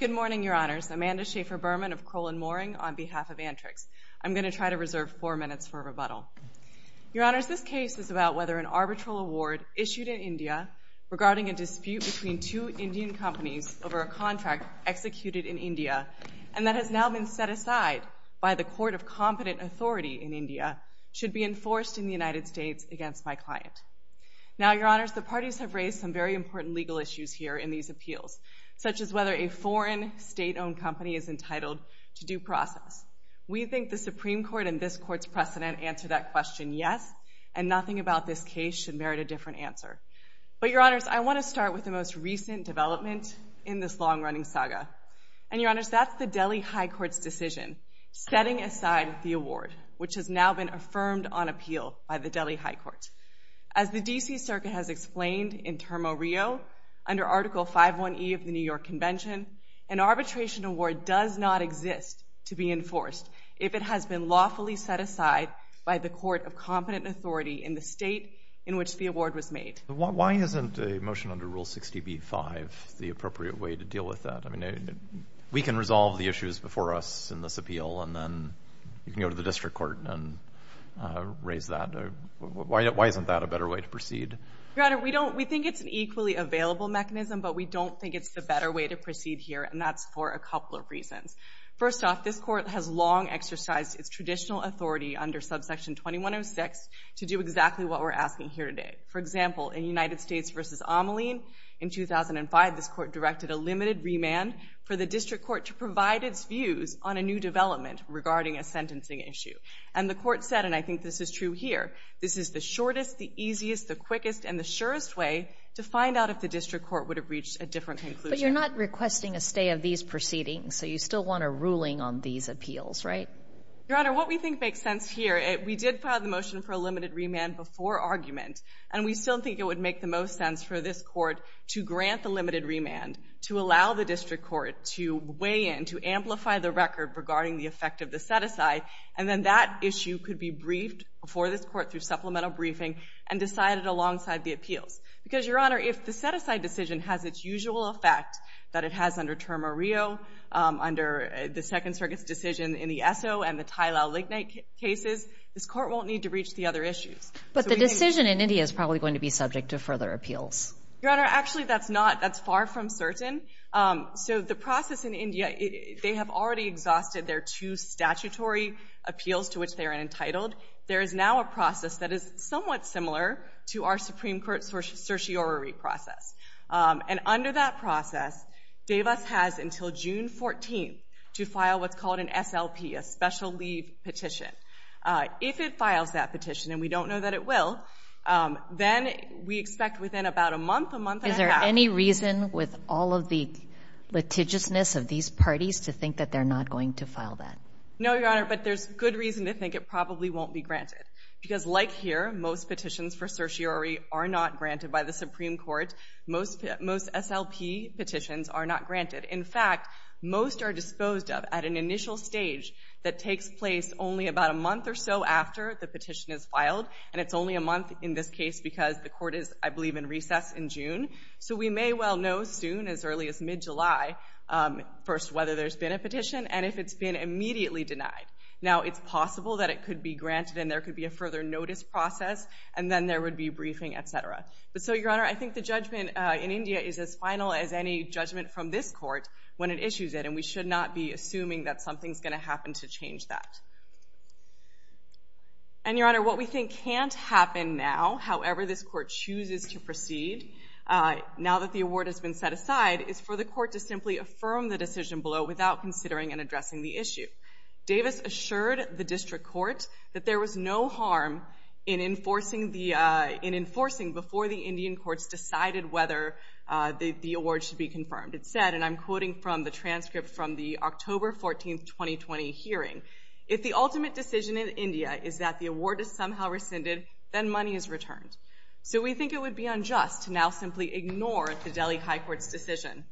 Good morning, Your Honours. Amanda Schaffer-Berman of Kroll & Moring on behalf of Antrix. I'm going to try to reserve four minutes for rebuttal. Your Honours, this case is about whether an arbitral award issued in India regarding a dispute between two Indian companies over a contract executed in India and that has now been set aside by the Court of Competent Authority in India should be enforced in the United States against my client. Now, Your Honours, the parties have raised some very important legal issues here in these appeals, such as whether a foreign state-owned company is entitled to due process. We think the Supreme Court and this Court's precedent answer that question yes and nothing about this case should merit a different answer. But, Your Honours, I want to start with the most recent development in this long-running saga. And, Your Honours, that's the Delhi High Court's decision setting aside the award, which has now been affirmed on appeal by the Delhi High Court. As the D.C. Circuit has explained in Termo Rio under Article 5.1e of the New York Convention, an arbitration award does not exist to be enforced if it has been lawfully set aside by the Court of Competent Authority in the state in which the award was made. Why isn't a motion under Rule 60b-5 the appropriate way to deal with that? I mean, we can resolve the issues before us in this appeal and then you can go to the district court and raise that. Why isn't that a better way to proceed? Your Honours, we think it's an equally available mechanism, but we don't think it's the better way to proceed here, and that's for a couple of reasons. First off, this Court has long exercised its traditional authority under Subsection 2106 to do exactly what we're asking here today. For example, in United States v. Ameline in 2005, this Court directed a limited remand for the district court to provide its views on a new development regarding a sentencing issue. And the Court said, and I think this is true here, this is the shortest, the easiest, the quickest, and the surest way to find out if the district court would have reached a different conclusion. But you're not requesting a stay of these proceedings, so you still want a ruling on these appeals, right? Your Honor, what we think makes sense here, we did file the motion for a limited remand before argument, and we still think it would make the most sense for this Court to grant the limited remand, to allow the district court to weigh in, to amplify the record regarding the effect of the set-aside, and then that issue could be briefed before this Court through supplemental briefing and decided alongside the appeals. Because, Your Honor, if the set-aside decision has its usual effect that it has under Termo Rio, under the Second Circuit's decision in the Esso and the Tilao-Lignite cases, this Court won't need to reach the other issues. But the decision in India is probably going to be subject to further appeals. Your Honor, actually that's not, that's far from certain. So the process in India, they have already exhausted their two statutory appeals to which they are entitled. There is now a process that is somewhat similar to our Supreme Court certiorari process. And under that process, Davis has until June 14th to file what's called an SLP, a special leave petition. If it files that petition, and we don't know that it will, Any reason with all of the litigiousness of these parties to think that they're not going to file that? No, Your Honor, but there's good reason to think it probably won't be granted. Because like here, most petitions for certiorari are not granted by the Supreme Court. Most SLP petitions are not granted. In fact, most are disposed of at an initial stage that takes place only about a month or so after the petition is filed. And it's only a month in this case because the Court is, I believe, in recess in June. So we may well know soon, as early as mid-July, first whether there's been a petition, and if it's been immediately denied. Now, it's possible that it could be granted and there could be a further notice process, and then there would be briefing, etc. But so, Your Honor, I think the judgment in India is as final as any judgment from this court when it issues it, and we should not be assuming that something's going to happen to change that. And, Your Honor, what we think can't happen now, however this court chooses to proceed, now that the award has been set aside, is for the court to simply affirm the decision below without considering and addressing the issue. Davis assured the District Court that there was no harm in enforcing before the Indian courts decided whether the award should be confirmed. It said, and I'm quoting from the transcript from the October 14, 2020 hearing, if the ultimate decision in India is that the award is somehow rescinded, then money is returned. So we think it would be unjust to now simply ignore the Delhi High Court's decision.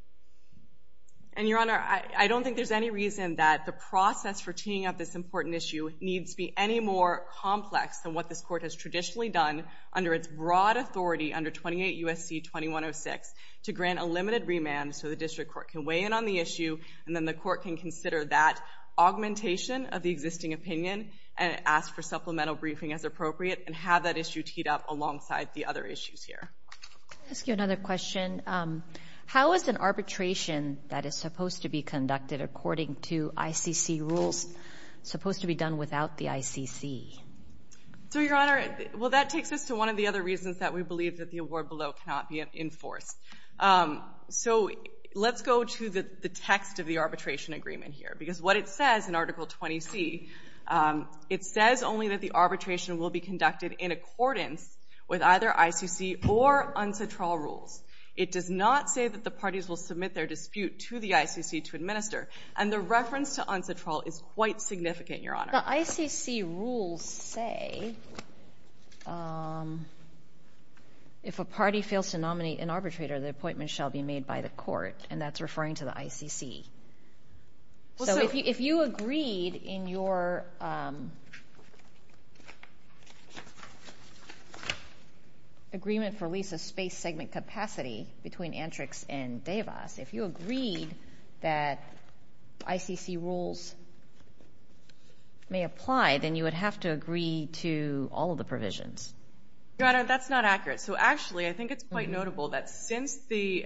And, Your Honor, I don't think there's any reason that the process for teeing up this important issue needs to be any more complex than what this court has traditionally done under its broad authority under 28 U.S.C. 2106 to grant a limited remand so the District Court can weigh in on the issue and then the court can consider that augmentation of the existing opinion and ask for supplemental briefing as appropriate and have that issue teed up alongside the other issues here. I'll ask you another question. How is an arbitration that is supposed to be conducted according to ICC rules supposed to be done without the ICC? So, Your Honor, well, that takes us to one of the other reasons that we believe that the award below cannot be enforced. So let's go to the text of the arbitration agreement here, because what it says in Article 20C, it says only that the arbitration will be conducted in accordance with either ICC or UNCTRAL rules. It does not say that the parties will submit their dispute to the ICC to administer. And the reference to UNCTRAL is quite significant, Your Honor. The ICC rules say if a party fails to nominate an arbitrator, the appointment shall be made by the court, and that's referring to the ICC. So if you agreed in your agreement for lease of space segment capacity between Antrix and Devas, if you agreed that ICC rules may apply, then you would have to agree to all of the provisions. Your Honor, that's not accurate. So actually, I think it's quite notable that since the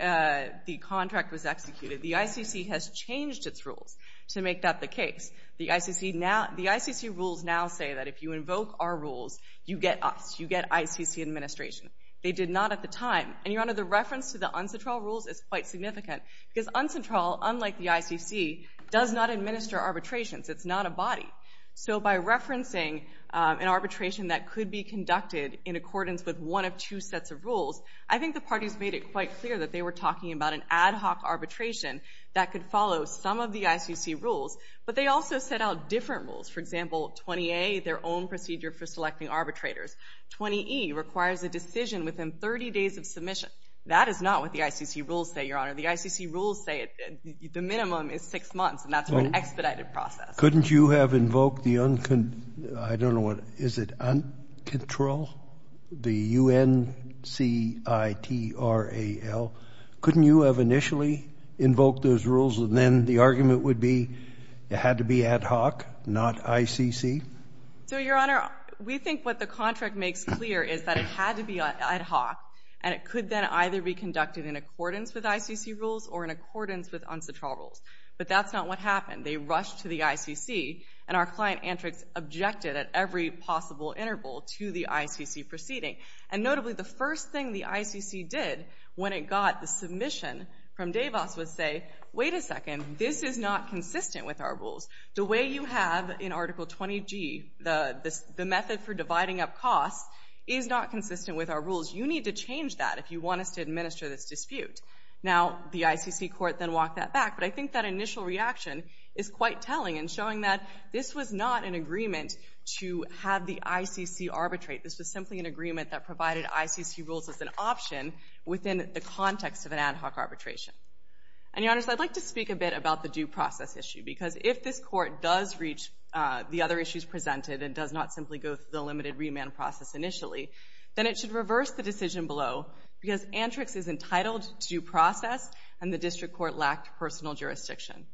contract was executed, the ICC has changed its rules to make that the case. The ICC rules now say that if you invoke our rules, you get us, you get ICC administration. They did not at the time. And, Your Honor, the reference to the UNCTRAL rules is quite significant, because UNCTRAL, unlike the ICC, does not administer arbitrations. It's not a body. So by referencing an arbitration that could be conducted in accordance with one of two sets of rules, I think the parties made it quite clear that they were talking about an ad hoc arbitration that could follow some of the ICC rules, but they also set out different rules. For example, 20A, their own procedure for selecting arbitrators. 20E requires a decision within 30 days of submission. That is not what the ICC rules say, Your Honor. The ICC rules say the minimum is six months, and that's an expedited process. Couldn't you have invoked the uncontrol, the U-N-C-I-T-R-A-L? Couldn't you have initially invoked those rules, and then the argument would be it had to be ad hoc, not ICC? So, Your Honor, we think what the contract makes clear is that it had to be ad hoc, and it could then either be conducted in accordance with ICC rules or in accordance with UNCTRAL rules. But that's not what happened. They rushed to the ICC, and our client, Antrix, objected at every possible interval to the ICC proceeding. And notably, the first thing the ICC did when it got the submission from DeVos was say, wait a second, this is not consistent with our rules. The way you have in Article 20G, the method for dividing up costs is not consistent with our rules. You need to change that if you want us to administer this dispute. Now, the ICC court then walked that back, but I think that initial reaction is quite telling in showing that this was not an agreement to have the ICC arbitrate. This was simply an agreement that provided ICC rules as an option within the context of an ad hoc arbitration. And, Your Honors, I'd like to speak a bit about the due process issue, because if this court does reach the other issues presented and does not simply go through the limited remand process initially, then it should reverse the decision below, because Antrix is entitled to due process, and the district court lacked personal jurisdiction.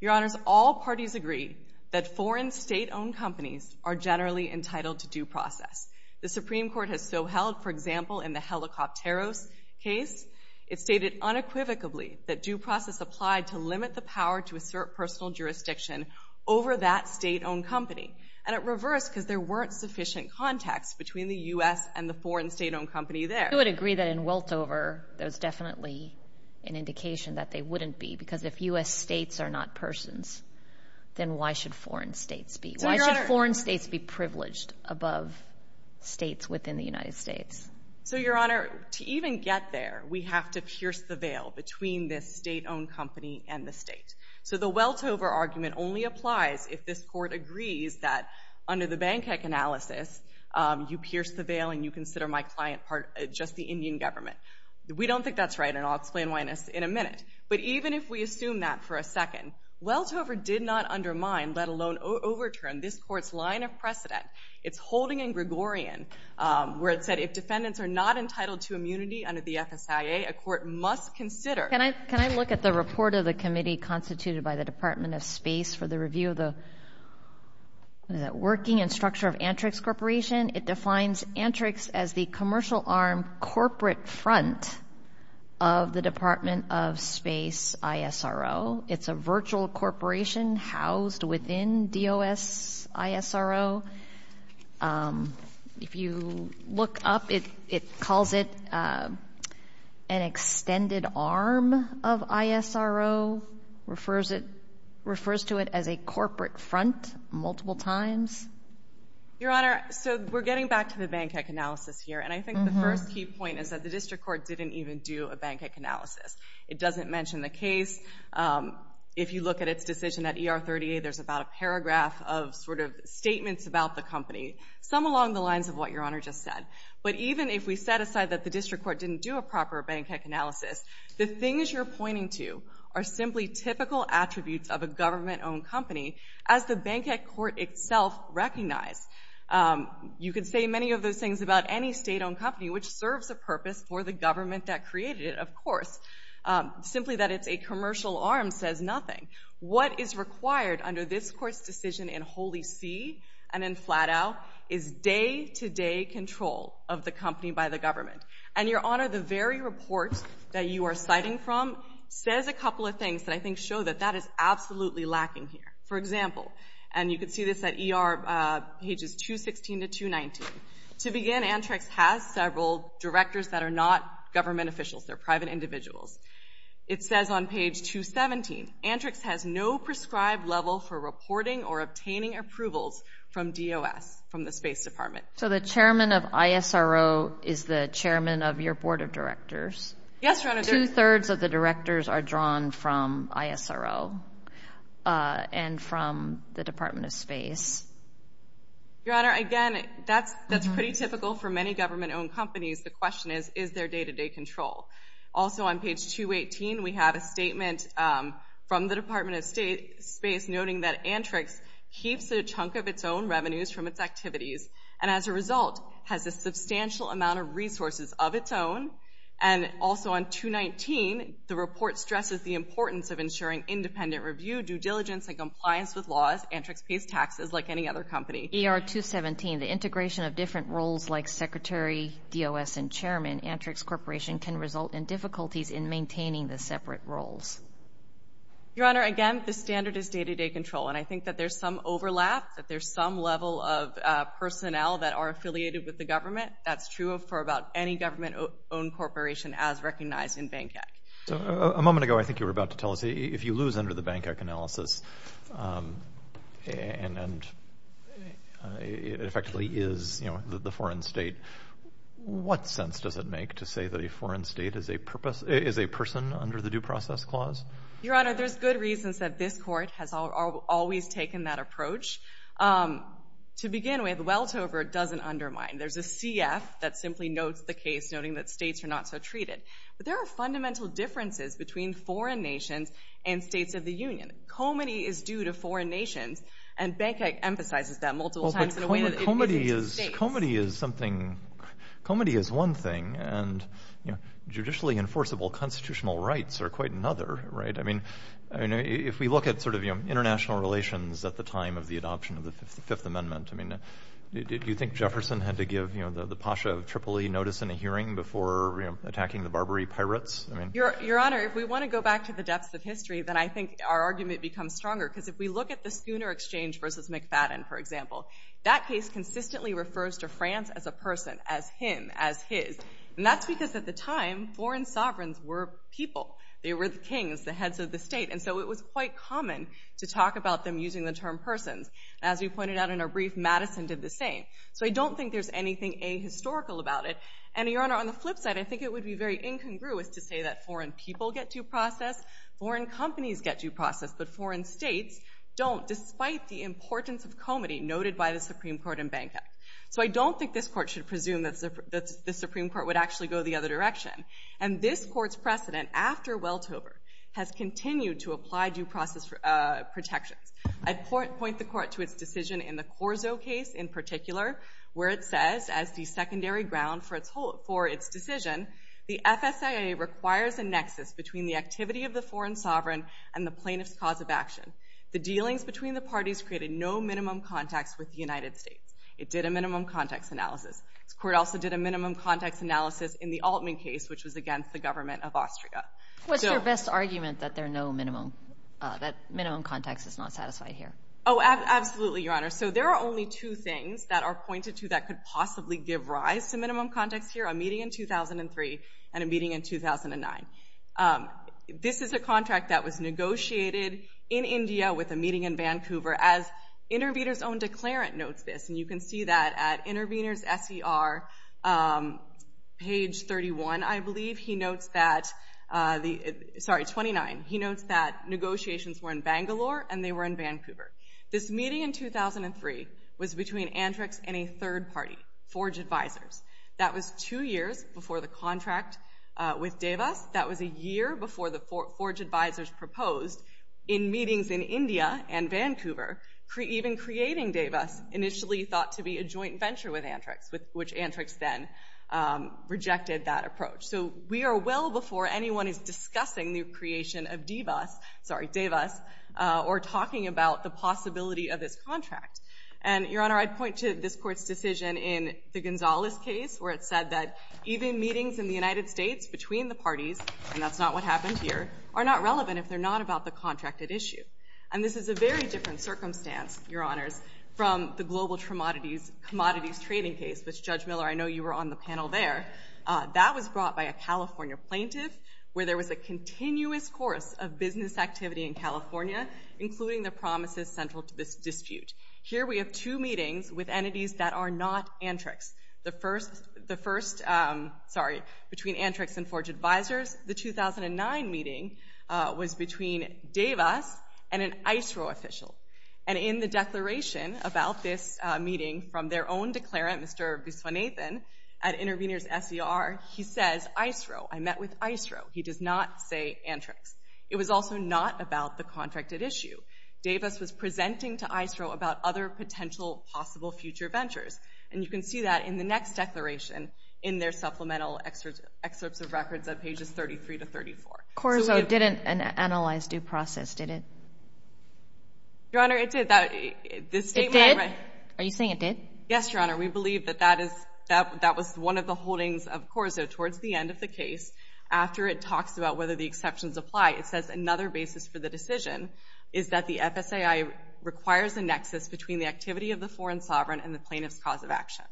Your Honors, all parties agree that foreign state-owned companies are generally entitled to due process. The Supreme Court has so held, for example, in the Helicopteros case, it stated unequivocally that due process applied to limit the power to assert personal jurisdiction over that state-owned company. And it reversed because there weren't sufficient contacts between the U.S. and the foreign state-owned company there. I would agree that in Weltover, there's definitely an indication that they wouldn't be, because if U.S. states are not persons, then why should foreign states be? Why should foreign states be privileged above states within the United States? So, Your Honor, to even get there, we have to pierce the veil between this state-owned company and the state. So the Weltover argument only applies if this Court agrees that under the Bankheck analysis, you pierce the veil and you consider my client part of just the Indian government. We don't think that's right, and I'll explain why in a minute. But even if we assume that for a second, Weltover did not undermine, let alone overturn, this Court's line of precedent. It's holding in Gregorian where it said if defendants are not entitled to immunity under the FSIA, a court must consider. Can I look at the report of the committee constituted by the Department of Space for the review of the working and structure of Antrix Corporation? It defines Antrix as the commercial arm corporate front of the Department of Space ISRO. It's a virtual corporation housed within DOS ISRO. If you look up, it calls it an extended arm of ISRO, refers to it as a corporate front multiple times. Your Honor, so we're getting back to the Bankheck analysis here, and I think the first key point is that the district court didn't even do a Bankheck analysis. It doesn't mention the case. If you look at its decision at ER38, there's about a paragraph of sort of statements about the company, some along the lines of what Your Honor just said. But even if we set aside that the district court didn't do a proper Bankheck analysis, the things you're pointing to are simply typical attributes of a government-owned company, as the Bankheck court itself recognized. You could say many of those things about any state-owned company, simply that it's a commercial arm says nothing. What is required under this court's decision in Holy See and in Flat Out is day-to-day control of the company by the government. And Your Honor, the very report that you are citing from says a couple of things that I think show that that is absolutely lacking here. For example, and you can see this at ER pages 216 to 219, to begin Antrix has several directors that are not government officials. They're private individuals. It says on page 217, Antrix has no prescribed level for reporting or obtaining approvals from DOS, from the Space Department. So the chairman of ISRO is the chairman of your board of directors? Yes, Your Honor. Two-thirds of the directors are drawn from ISRO and from the Department of Space. Your Honor, again, that's pretty typical for many government-owned companies. The question is, is there day-to-day control? Also on page 218, we have a statement from the Department of Space noting that Antrix keeps a chunk of its own revenues from its activities and as a result has a substantial amount of resources of its own. And also on 219, the report stresses the importance of ensuring independent review, due diligence, and compliance with laws. Antrix pays taxes like any other company. ER 217, the integration of different roles like secretary, DOS, and chairman, Antrix Corporation can result in difficulties in maintaining the separate roles. Your Honor, again, the standard is day-to-day control, and I think that there's some overlap, that there's some level of personnel that are affiliated with the government. That's true for about any government-owned corporation as recognized in BANCCAC. A moment ago, I think you were about to tell us, if you lose under the BANCCAC analysis and it effectively is the foreign state, what sense does it make to say that a foreign state is a person under the Due Process Clause? Your Honor, there's good reasons that this court has always taken that approach. To begin with, weltover doesn't undermine. There's a CF that simply notes the case, noting that states are not so treated. But there are fundamental differences between foreign nations and states of the union. Comity is due to foreign nations, and BANCCAC emphasizes that multiple times in a way that it isn't to states. Comity is one thing, and judicially enforceable constitutional rights are quite another. If we look at international relations at the time of the adoption of the Fifth Amendment, do you think Jefferson had to give the Pasha of Tripoli notice in a hearing before attacking the Barbary pirates? Your Honor, if we want to go back to the depths of history, then I think our argument becomes stronger. Because if we look at the Schooner Exchange versus McFadden, for example, that case consistently refers to France as a person, as him, as his. And that's because at the time, foreign sovereigns were people. They were the kings, the heads of the state. And so it was quite common to talk about them using the term persons. As we pointed out in our brief, Madison did the same. So I don't think there's anything ahistorical about it. And, Your Honor, on the flip side, I think it would be very incongruous to say that foreign people get due process, foreign companies get due process, but foreign states don't, despite the importance of comity noted by the Supreme Court in Bangkok. So I don't think this Court should presume that the Supreme Court would actually go the other direction. And this Court's precedent after Welthoever has continued to apply due process protections. I point the Court to its decision in the Corso case in particular, where it says, as the secondary ground for its decision, the FSIA requires a nexus between the activity of the foreign sovereign and the plaintiff's cause of action. The dealings between the parties created no minimum context with the United States. It did a minimum context analysis. This Court also did a minimum context analysis in the Altman case, which was against the government of Austria. What's your best argument that minimum context is not satisfied here? Oh, absolutely, Your Honor. So there are only two things that are pointed to that could possibly give rise to minimum context here, a meeting in 2003 and a meeting in 2009. This is a contract that was negotiated in India with a meeting in Vancouver, as Intervenors' Own Declarant notes this, and you can see that at Intervenors' SER, page 31, I believe, he notes that, sorry, 29, he notes that negotiations were in Bangalore and they were in Vancouver. This meeting in 2003 was between Antrix and a third party, Forge Advisors. That was two years before the contract with Davis. That was a year before the Forge Advisors proposed, in meetings in India and Vancouver, even creating Davis, initially thought to be a joint venture with Antrix, which Antrix then rejected that approach. So we are well before anyone is discussing the creation of Davis or talking about the possibility of this contract. And, Your Honor, I'd point to this Court's decision in the Gonzalez case where it said that even meetings in the United States between the parties, and that's not what happened here, are not relevant if they're not about the contracted issue. And this is a very different circumstance, Your Honors, from the global commodities trading case, which, Judge Miller, I know you were on the panel there. That was brought by a California plaintiff where there was a continuous course of business activity in California, including the promises central to this dispute. Here we have two meetings with entities that are not Antrix. The first, sorry, between Antrix and Forge Advisors, the 2009 meeting was between Davis and an ISRO official. And in the declaration about this meeting from their own declarant, Mr. Biswanathan, at Intervenors SER, he says, I met with ISRO. I met with ISRO. He does not say Antrix. It was also not about the contracted issue. Davis was presenting to ISRO about other potential possible future ventures. And you can see that in the next declaration in their supplemental excerpts of records at pages 33 to 34. Corso didn't analyze due process, did it? Your Honor, it did. It did? Are you saying it did? Yes, Your Honor. We believe that that was one of the holdings of Corso towards the end of the case. After it talks about whether the exceptions apply, it says another basis for the decision is that the FSAI requires a nexus between the activity of the foreign sovereign and the plaintiff's cause of action.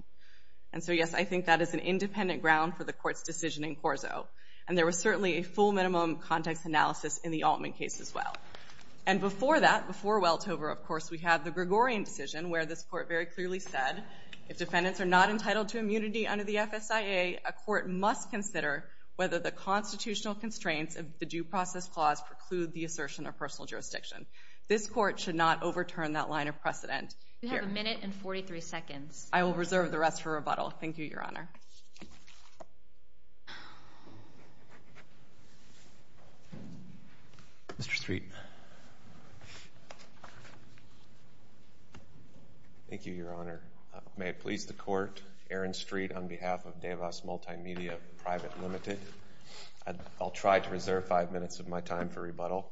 And so, yes, I think that is an independent ground for the Court's decision in Corso. And there was certainly a full minimum context analysis in the Altman case as well. And before that, before Weltover, of course, we have the Gregorian decision where this Court very clearly said if defendants are not entitled to immunity under the FSIA, a court must consider whether the constitutional constraints of the due process clause preclude the assertion of personal jurisdiction. This Court should not overturn that line of precedent. You have a minute and 43 seconds. I will reserve the rest for rebuttal. Thank you, Your Honor. Mr. Street. Thank you, Your Honor. May it please the Court, Aaron Street on behalf of DeVos Multimedia, Private Limited. I'll try to reserve five minutes of my time for rebuttal.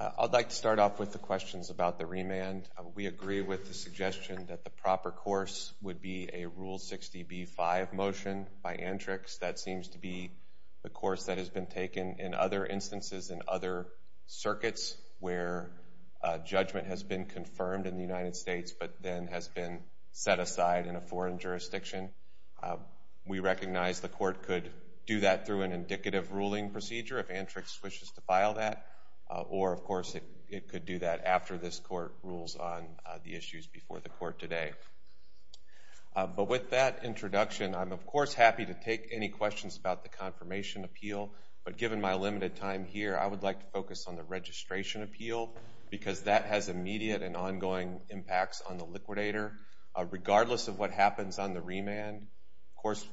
I'd like to start off with the questions about the remand. We agree with the suggestion that the proper course would be a Rule 60b-5 motion by Antrix. That seems to be the course that has been taken in other instances in other states. Circuits where judgment has been confirmed in the United States but then has been set aside in a foreign jurisdiction. We recognize the Court could do that through an indicative ruling procedure if Antrix wishes to file that, or, of course, it could do that after this Court rules on the issues before the Court today. But with that introduction, I'm, of course, happy to take any questions about the confirmation appeal, but given my limited time here, I would like to focus on the registration appeal because that has immediate and ongoing impacts on the liquidator regardless of what happens on the remand. Of course,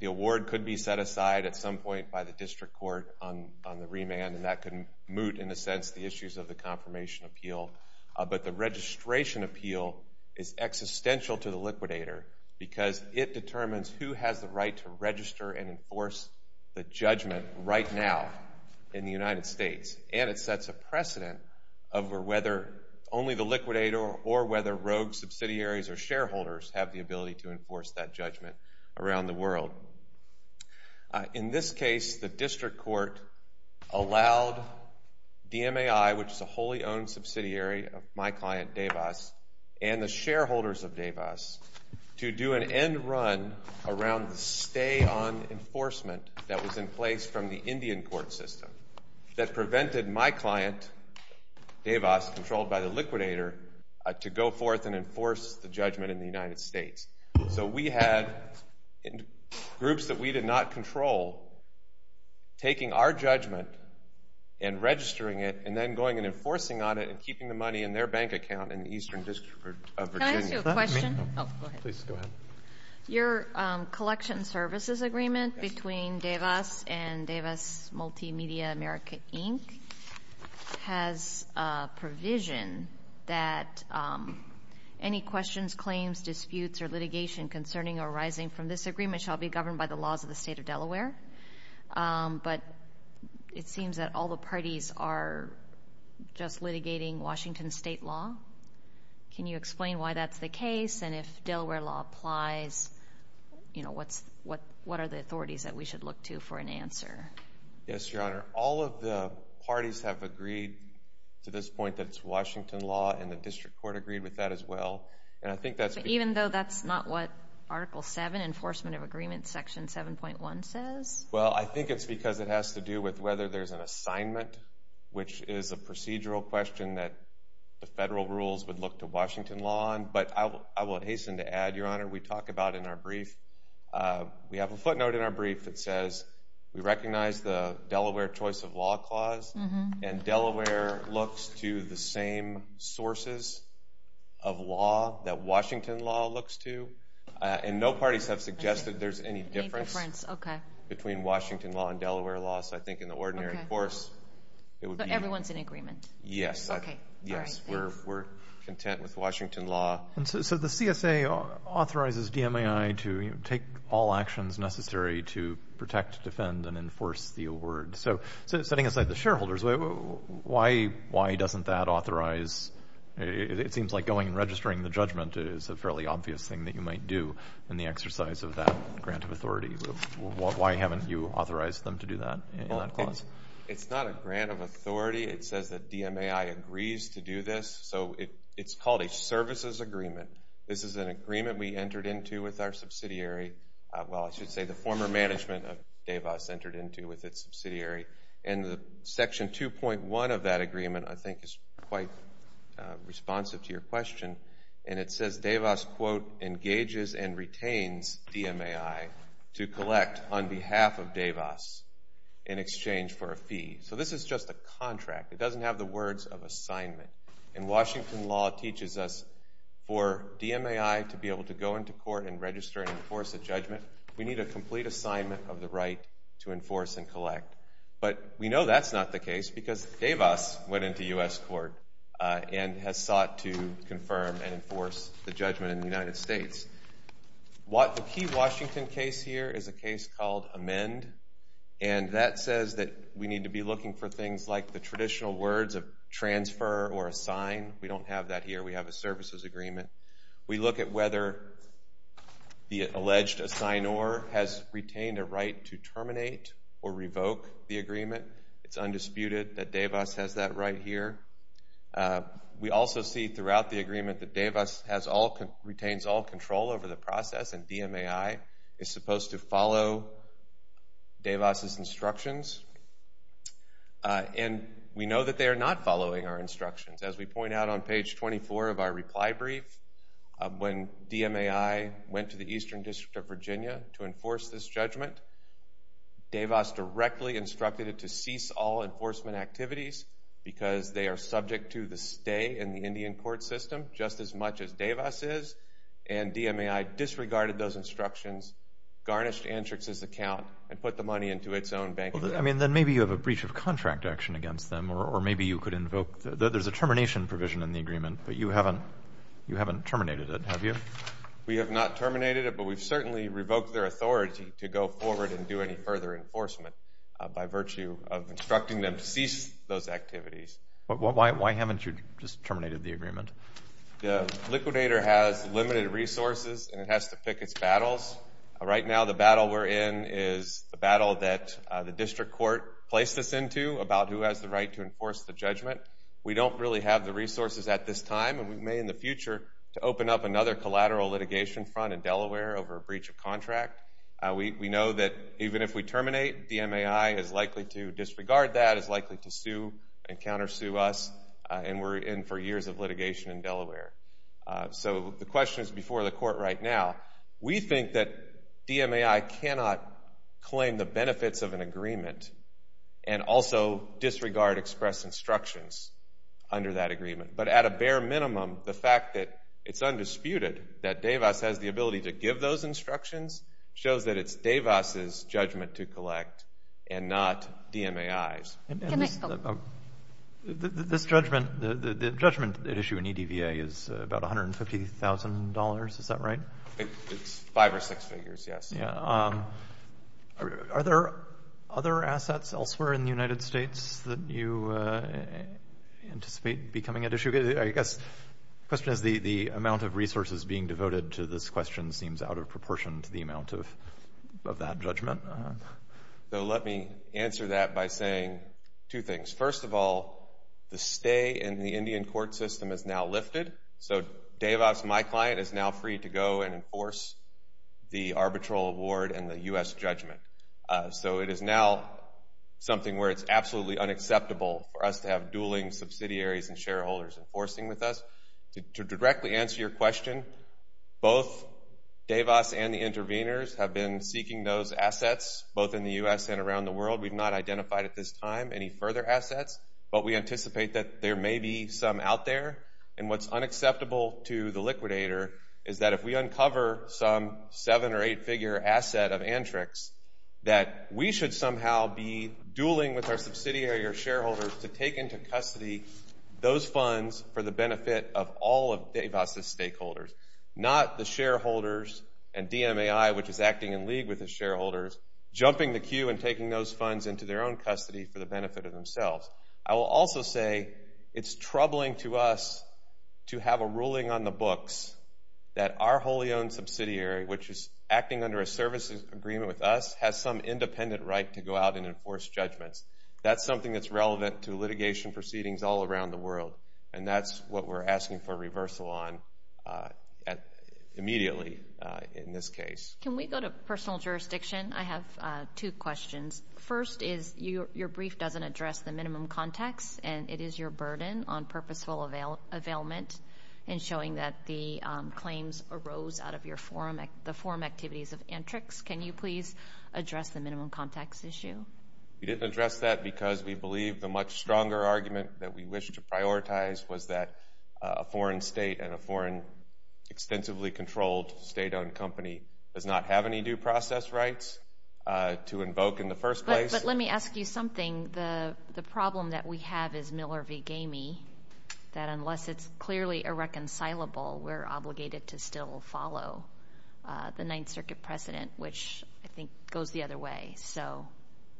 the award could be set aside at some point by the District Court on the remand, and that could moot, in a sense, the issues of the confirmation appeal. But the registration appeal is existential to the liquidator because it determines who has the right to register and enforce the judgment right now in the United States, and it sets a precedent of whether only the liquidator or whether rogue subsidiaries or shareholders have the ability to enforce that judgment around the world. In this case, the District Court allowed DMAI, which is a wholly owned subsidiary of my client, Davis, and the shareholders of Davis to do an end run around the stay-on enforcement that was in place from the Indian court system that prevented my client, Davis, controlled by the liquidator, to go forth and enforce the judgment in the United States. So we had groups that we did not control taking our judgment and registering it and then going and enforcing on it and keeping the money in their bank account in the Eastern District of Virginia. Can I ask you a question? Please, go ahead. Your collection services agreement between Davis and Davis Multimedia America Inc. has a provision that any questions, claims, disputes, or litigation concerning or arising from this agreement shall be governed by the laws of the state of Delaware, but it seems that all the parties are just litigating Washington state law. Can you explain why that's the case, and if Delaware law applies, what are the authorities that we should look to for an answer? Yes, Your Honor. All of the parties have agreed to this point that it's Washington law, and the district court agreed with that as well. Even though that's not what Article 7, Enforcement of Agreement, Section 7.1, says? Well, I think it's because it has to do with whether there's an assignment, which is a procedural question that the federal rules would look to Washington law on, but I will hasten to add, Your Honor, we talk about in our brief, we have a footnote in our brief that says we recognize the Delaware Choice of Law Clause, and Delaware looks to the same sources of law that Washington law looks to, and no parties have suggested there's any difference between Washington law and Delaware law, so I think in the ordinary course... So everyone's in agreement? Yes. We're content with Washington law. So the CSA authorizes DMAI to take all actions necessary to protect, defend, and enforce the award. So setting aside the shareholders, why doesn't that authorize...? It seems like going and registering the judgment is a fairly obvious thing that you might do in the exercise of that grant of authority. Why haven't you authorized them to do that in that clause? It's not a grant of authority. It says that DMAI agrees to do this, so it's called a services agreement. This is an agreement we entered into with our subsidiary. Well, I should say the former management of DAVAS entered into with its subsidiary, and Section 2.1 of that agreement, I think, is quite responsive to your question, and it says DAVAS, quote, engages and retains DMAI to collect on behalf of DAVAS in exchange for a fee. So this is just a contract. It doesn't have the words of assignment. And Washington law teaches us for DMAI to be able to go into court and register and enforce a judgment, we need a complete assignment of the right to enforce and collect. But we know that's not the case because DAVAS went into U.S. court and has sought to confirm and enforce the judgment in the United States. The key Washington case here is a case called Amend, and that says that we need to be looking for things like the traditional words of transfer or assign. We don't have that here. We have a services agreement. We look at whether the alleged assignor has retained a right to terminate or revoke the agreement. It's undisputed that DAVAS has that right here. We also see throughout the agreement that DAVAS retains all control over the process and DMAI is supposed to follow DAVAS' instructions. And we know that they are not following our instructions. As we point out on page 24 of our reply brief, when DMAI went to the Eastern District of Virginia to enforce this judgment, DAVAS directly instructed it to cease all enforcement activities because they are subject to the stay in the Indian court system just as much as DAVAS is, and DMAI disregarded those instructions, garnished Antrix's account, and put the money into its own bank account. Then maybe you have a breach of contract action against them, or maybe you could invoke... There's a termination provision in the agreement, but you haven't terminated it, have you? We have not terminated it, but we've certainly revoked their authority to go forward and do any further enforcement by virtue of instructing them to cease those activities. Why haven't you just terminated the agreement? The liquidator has limited resources, and it has to pick its battles. Right now, the battle we're in is the battle that the district court placed us into about who has the right to enforce the judgment. We don't really have the resources at this time, and we may in the future open up another collateral litigation front in Delaware over a breach of contract. We know that even if we terminate, DMAI is likely to disregard that, is likely to sue and countersue us, and we're in for years of litigation in Delaware. So the question is before the court right now. We think that DMAI cannot claim the benefits of an agreement and also disregard express instructions under that agreement. But at a bare minimum, the fact that it's undisputed that DAVAS has the ability to give those instructions shows that it's DAVAS's judgment to collect and not DMAI's. This judgment, the judgment at issue in EDVA is about $150,000, is that right? It's five or six figures, yes. Yeah. Are there other assets elsewhere in the United States that you anticipate becoming at issue? I guess the question is the amount of resources being devoted to this question seems out of proportion to the amount of that judgment. So let me answer that by saying two things. First of all, the stay in the Indian court system is now lifted, so DAVAS, my client, is now free to go and enforce the arbitral award and the U.S. judgment. So it is now something where it's absolutely unacceptable for us to have dueling subsidiaries and shareholders enforcing with us. To directly answer your question, both DAVAS and the interveners have been seeking those assets, both in the U.S. and around the world. We've not identified at this time any further assets, but we anticipate that there may be some out there. And what's unacceptable to the liquidator is that if we uncover some seven- or eight-figure asset of Antrix, that we should somehow be dueling with our subsidiary or shareholders to take into custody those funds for the benefit of all of DAVAS's stakeholders, not the shareholders and DMAI, which is acting in league with the shareholders, jumping the queue and taking those funds into their own custody for the benefit of themselves. I will also say it's troubling to us to have a ruling on the books that our wholly owned subsidiary, which is acting under a services agreement with us, has some independent right to go out and enforce judgments. That's something that's relevant to litigation proceedings all around the world, and that's what we're asking for reversal on immediately in this case. Can we go to personal jurisdiction? I have two questions. First is, your brief doesn't address the minimum contacts, and it is your burden on purposeful availment in showing that the claims arose out of the forum activities of Antrix. We didn't address that because we believe the much stronger argument that we wish to prioritize was that a foreign state and a foreign extensively controlled state-owned company does not have any due process rights to invoke in the first place. But let me ask you something. The problem that we have is Miller v. Gamey, that unless it's clearly irreconcilable, we're obligated to still follow the Ninth Circuit precedent, which I think goes the other way. So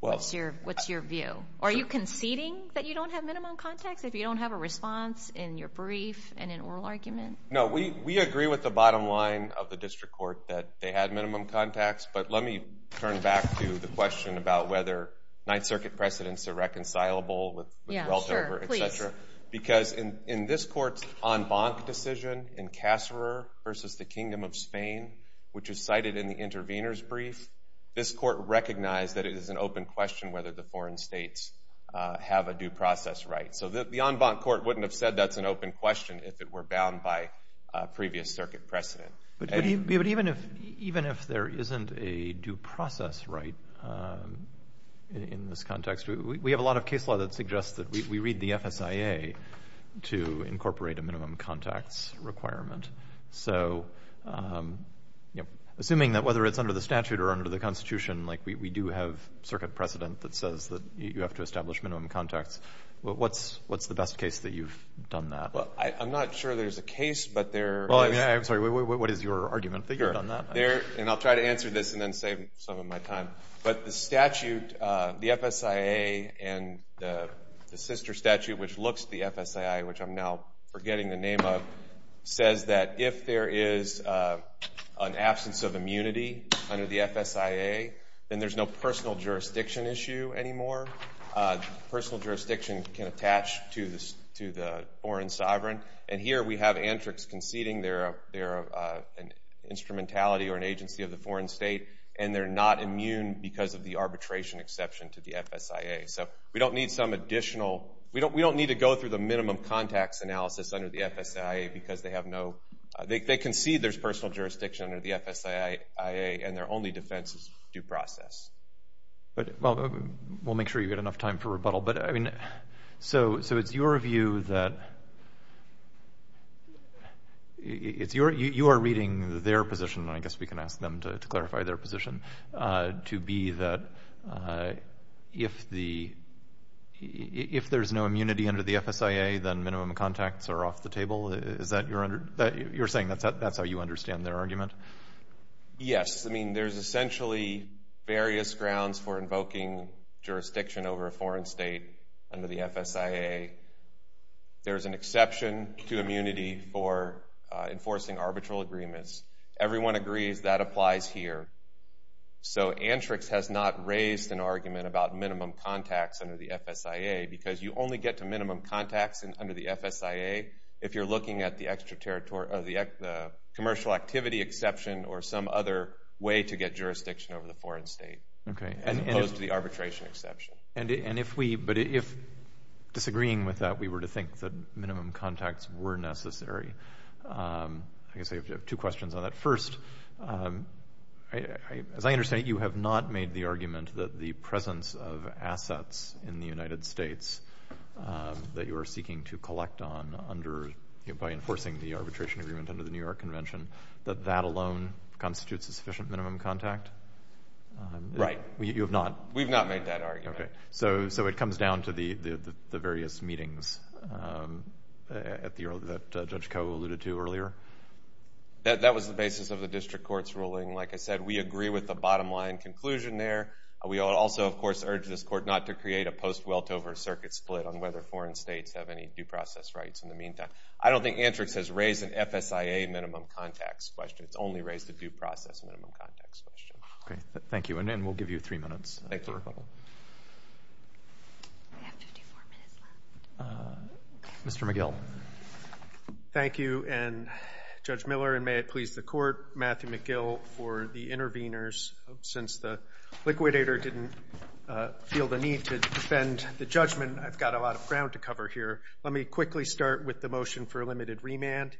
what's your view? Are you conceding that you don't have minimum contacts if you don't have a response in your brief and in oral argument? No, we agree with the bottom line of the district court that they had minimum contacts, but let me turn back to the question about whether Ninth Circuit precedents are reconcilable with Weltover, et cetera. Because in this court's en banc decision in Casserer v. The Kingdom of Spain, which is cited in the intervener's brief, this court recognized that it is an open question whether the foreign states have a due process right. So the en banc court wouldn't have said that's an open question if it were bound by previous circuit precedent. But even if there isn't a due process right in this context, we have a lot of case law that suggests that we read the FSIA to incorporate a minimum contacts requirement. So assuming that whether it's under the statute or under the Constitution, like we do have circuit precedent that says that you have to establish minimum contacts, what's the best case that you've done that? Well, I'm not sure there's a case, but there is... Well, I'm sorry, what is your argument that you've done that? And I'll try to answer this and then save some of my time. But the statute, the FSIA, and the sister statute which looks at the FSIA, which I'm now forgetting the name of, says that if there is an absence of immunity under the FSIA, then there's no personal jurisdiction issue anymore. Personal jurisdiction can attach to the foreign sovereign. And here we have antrics conceding they're an instrumentality or an agency of the foreign state, and they're not immune because of the arbitration exception to the FSIA. So we don't need some additional... We don't need to go through the minimum contacts analysis under the FSIA because they have no... They concede there's personal jurisdiction under the FSIA, and their only defense is due process. Well, we'll make sure you get enough time for rebuttal. But, I mean, so it's your view that... You are reading their position, and I guess we can ask them to clarify their position, to be that if the... If there's no immunity under the FSIA, then minimum contacts are off the table? Is that your... You're saying that's how you understand their argument? Yes. I mean, there's essentially various grounds for invoking jurisdiction over a foreign state under the FSIA. There's an exception to immunity for enforcing arbitral agreements. Everyone agrees that applies here. So antrics has not raised an argument about minimum contacts under the FSIA because you only get to minimum contacts under the FSIA if you're looking at the commercial activity exception or some other way to get jurisdiction over the foreign state, as opposed to the arbitration exception. And if we... But if, disagreeing with that, we were to think that minimum contacts were necessary... I guess I have two questions on that. First, as I understand it, you have not made the argument that the presence of assets in the United States that you are seeking to collect on by enforcing the arbitration agreement under the New York Convention, that that alone constitutes a sufficient minimum contact? Right. You have not? We've not made that argument. Okay. So it comes down to the various meetings that Judge Koh alluded to earlier? That was the basis of the district court's ruling. We also, of course, urge this court not to create a post-Weltover circuit split on whether foreign states have any due process rights in the meantime. I don't think Antrix has raised an FSIA minimum contacts question. It's only raised a due process minimum contacts question. Okay. Thank you. And then we'll give you three minutes. Thank you. Mr. McGill. Thank you. And Judge Miller, and may it please the court, Matthew McGill for the interveners. Since the liquidator didn't feel the need to defend the judgment, I've got a lot of ground to cover here. Let me quickly start with the motion for a limited remand.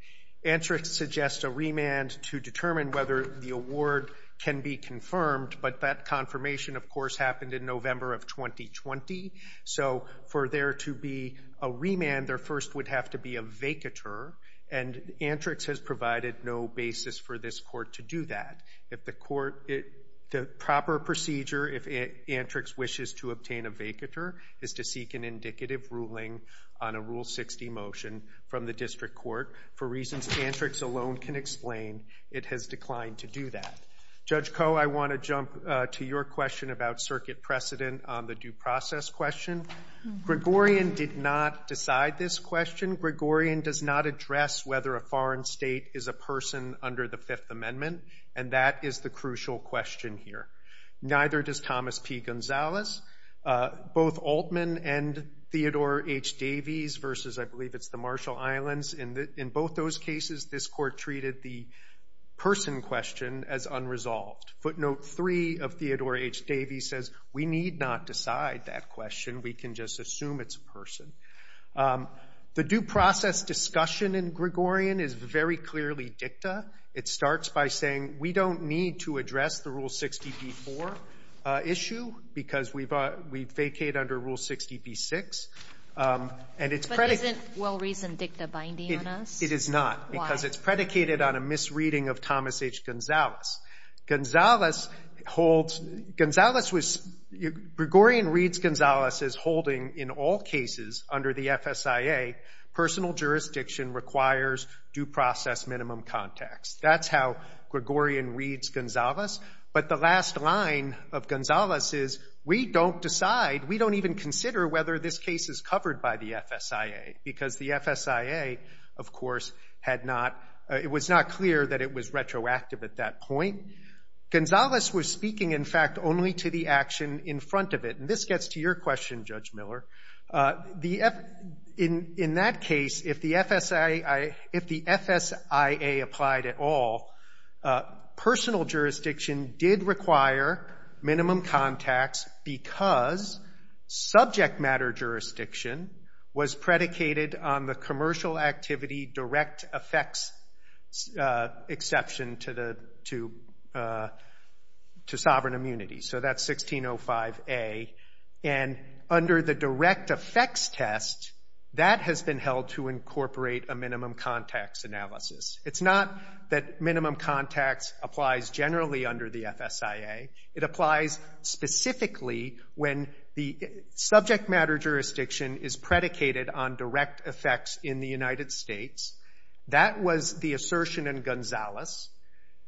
Antrix suggests a remand to determine whether the award can be confirmed, but that confirmation, of course, happened in November of 2020. So for there to be a remand, there first would have to be a vacatur, and Antrix has provided no basis for this court to do that. The proper procedure, if Antrix wishes to obtain a vacatur, is to seek an indicative ruling on a Rule 60 motion from the district court. For reasons Antrix alone can explain, it has declined to do that. Judge Koh, I want to jump to your question about circuit precedent on the due process question. Gregorian did not decide this question. Gregorian does not address whether a foreign state is a person under the Fifth Amendment, and that is the crucial question here. Neither does Thomas P. Gonzalez. Both Altman and Theodore H. Davies versus, I believe, it's the Marshall Islands, in both those cases, this court treated the person question as unresolved. Footnote 3 of Theodore H. Davies says, we need not decide that question. We can just assume it's a person. The due process discussion in Gregorian is very clearly dicta. It starts by saying, we don't need to address the Rule 60b-4 issue because we vacate under Rule 60b-6. And it's predicated... But isn't well-reasoned dicta binding on us? It is not. Why? Because it's predicated on a misreading of Thomas H. Gonzalez. Gonzalez holds... Gonzalez was... Gregorian reads Gonzalez as holding, in all cases under the FSIA, personal jurisdiction requires due process minimum context. That's how Gregorian reads Gonzalez. But the last line of Gonzalez is, we don't decide... We don't even consider whether this case is covered by the FSIA because the FSIA, of course, had not... It was not clear that it was retroactive at that point. Gonzalez was speaking, in fact, only to the action in front of it. And this gets to your question, Judge Miller. In that case, if the FSIA... If the FSIA applied at all, personal jurisdiction did require minimum context because subject matter jurisdiction was predicated on the commercial activity direct effects exception to the... to sovereign immunity. So that's 1605a. And under the direct effects test, that has been held to incorporate a minimum context analysis. It's not that minimum context applies generally under the FSIA. It applies specifically when the subject matter jurisdiction is predicated on direct effects in the United States. That was the assertion in Gonzalez.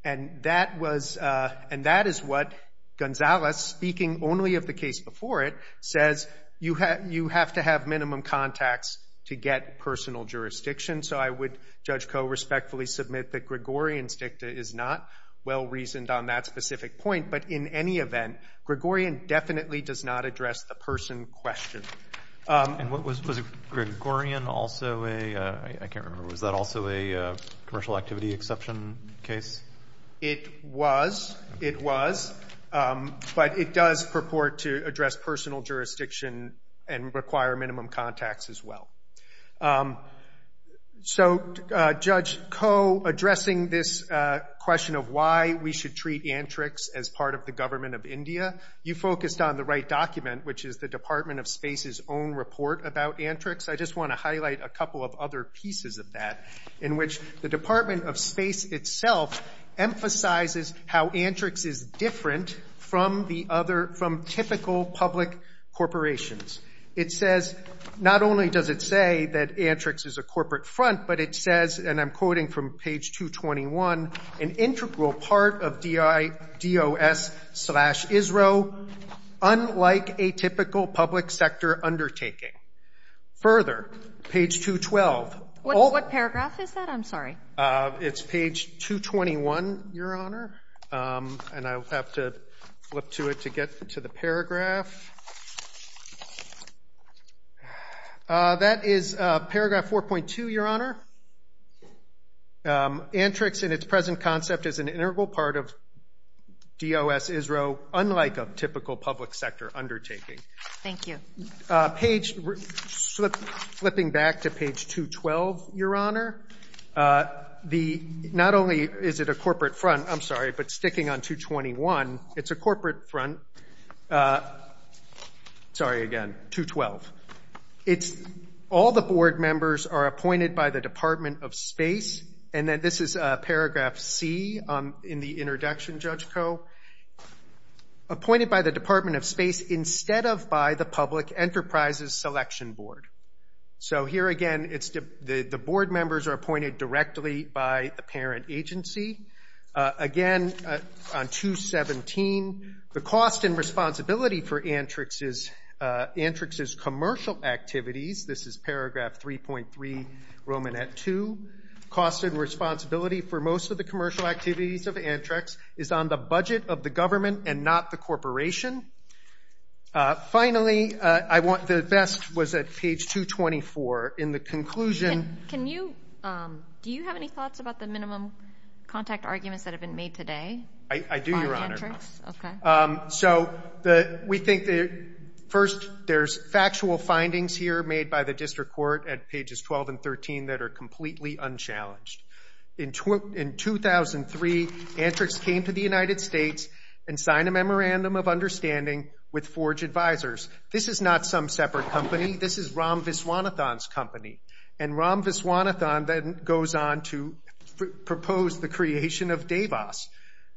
And that was... Gonzalez, speaking only of the case before it, says you have to have minimum context to get personal jurisdiction. So I would, Judge Koh, respectfully submit that Gregorian's dicta is not well-reasoned on that specific point. But in any event, Gregorian definitely does not address the person question. And was Gregorian also a... I can't remember. Was that also a commercial activity exception case? It was. It was. But it does purport to address personal jurisdiction and require minimum context as well. So, Judge Koh, addressing this question of why we should treat antrics as part of the government of India, you focused on the right document, which is the Department of Space's own report about antrics. I just want to highlight a couple of other pieces of that in which the Department of Space itself emphasizes how antrics is different from typical public corporations. It says... Not only does it say that antrics is a corporate front, but it says, and I'm quoting from page 221, an integral part of DIDOS-ISRO, unlike a typical public sector undertaking. Further, page 212... What's that? I'm sorry. It's page 221, Your Honor. And I'll have to flip to it to get to the paragraph. That is paragraph 4.2, Your Honor. Antrics in its present concept is an integral part of DIDOS-ISRO, unlike a typical public sector undertaking. Thank you. Flipping back to page 212, Your Honor, not only is it a corporate front, I'm sorry, but sticking on 221, it's a corporate front. Sorry again, 212. All the board members are appointed by the Department of Space, and this is paragraph C in the introduction, Judge Koh. Appointed by the Department of Space instead of by the Public Enterprises Selection Board. So here again, the board members are appointed directly by the parent agency. Again, on 217, the cost and responsibility for Antrics' commercial activities, this is paragraph 3.3, Romanette II, cost and responsibility for most of the commercial activities of Antrics is on the budget of the government and not the corporation. Finally, the best was at page 224. In the conclusion... Can you... Do you have any thoughts about the minimum contact arguments that have been made today by Antrics? I do, Your Honor. Okay. So we think that, first, there's factual findings here made by the district court at pages 12 and 13 that are completely unchallenged. In 2003, Antrics came to the United States and signed a memorandum of understanding with Forge Advisors. This is not some separate company. This is Ram Viswanathan's company. And Ram Viswanathan then goes on to propose the creation of Davos.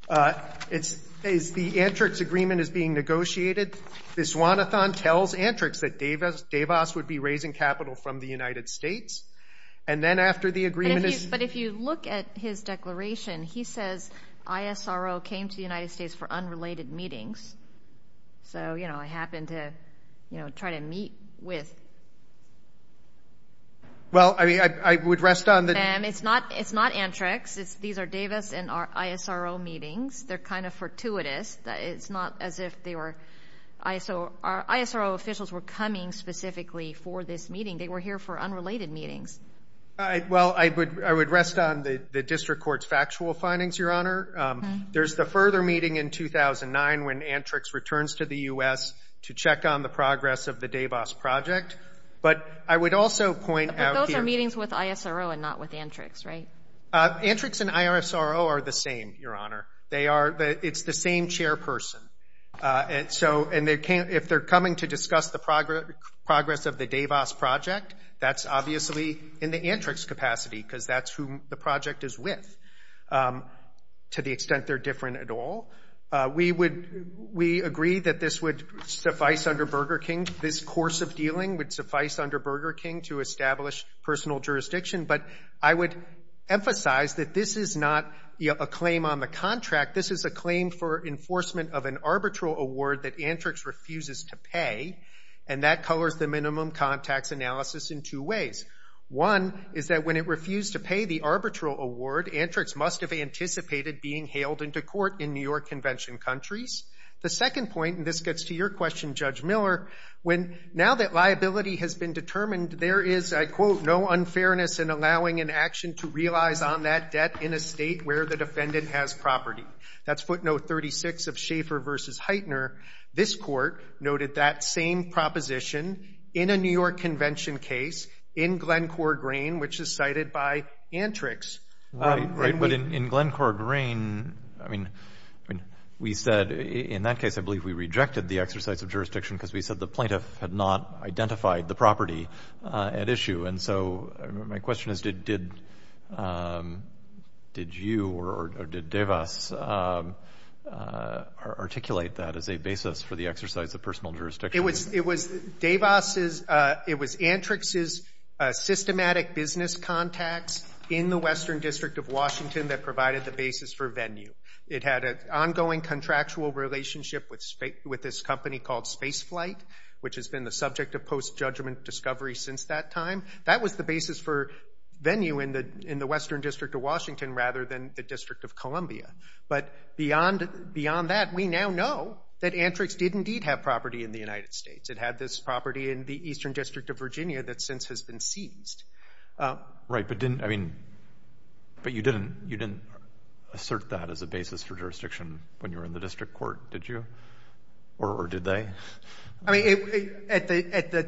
As the Antrics agreement is being negotiated, Viswanathan tells Antrics that Davos would be raising capital from the United States. And then after the agreement is... But if you look at his declaration, he says ISRO came to the United States for unrelated meetings. So, you know, I happened to try to meet with... Well, I would rest on the... It's not Antrics. These are Davos and ISRO meetings. They're kind of fortuitous. It's not as if they were... ISRO officials were coming specifically for this meeting. They were here for unrelated meetings. Well, I would rest on the district court's factual findings, Your Honor. There's the further meeting in 2009 when Antrics returns to the U.S. to check on the progress of the Davos project. But I would also point out here... But those are meetings with ISRO and not with Antrics, right? Antrics and ISRO are the same, Your Honor. It's the same chairperson. And if they're coming to discuss the progress of the Davos project, that's obviously in the Antrics' capacity because that's who the project is with, to the extent they're different at all. We agree that this would suffice under Burger King. This course of dealing would suffice under Burger King to establish personal jurisdiction. But I would emphasize that this is not a claim on the contract. This is a claim for enforcement of an arbitral award that Antrics refuses to pay, and that colors the minimum contacts analysis in two ways. One is that when it refused to pay the arbitral award, Antrics must have anticipated being hailed into court in New York Convention countries. The second point, and this gets to your question, Judge Miller, when now that liability has been determined, there is, I quote, no unfairness in allowing an action to realize on that debt in a state where the defendant has property. That's footnote 36 of Schaeffer v. Heitner. This court noted that same proposition in a New York Convention case in Glencore Green, which is cited by Antrics. Right, but in Glencore Green, I mean, we said in that case, I believe we rejected the exercise of jurisdiction because we said the plaintiff had not identified the property at issue. And so my question is, did you or did Devas articulate that as a basis for the exercise of personal jurisdiction? It was Antrics' systematic business contacts in the Western District of Washington that provided the basis for Venue. It had an ongoing contractual relationship with this company called Spaceflight, which has been the subject of post-judgment discovery since that time. That was the basis for Venue in the Western District of Washington rather than the District of Columbia. But beyond that, we now know that Antrics did indeed have property in the United States. It had this property in the Eastern District of Virginia that since has been seized. Right, but didn't, I mean, but you didn't assert that as a basis for jurisdiction when you were in the district court, did you? Or did they? I mean, at the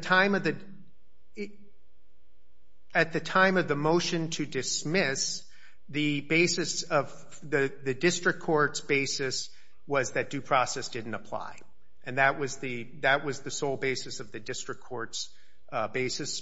time of the motion to dismiss, the basis of the district court's basis was that due process didn't apply. And that was the sole basis of the district court's basis,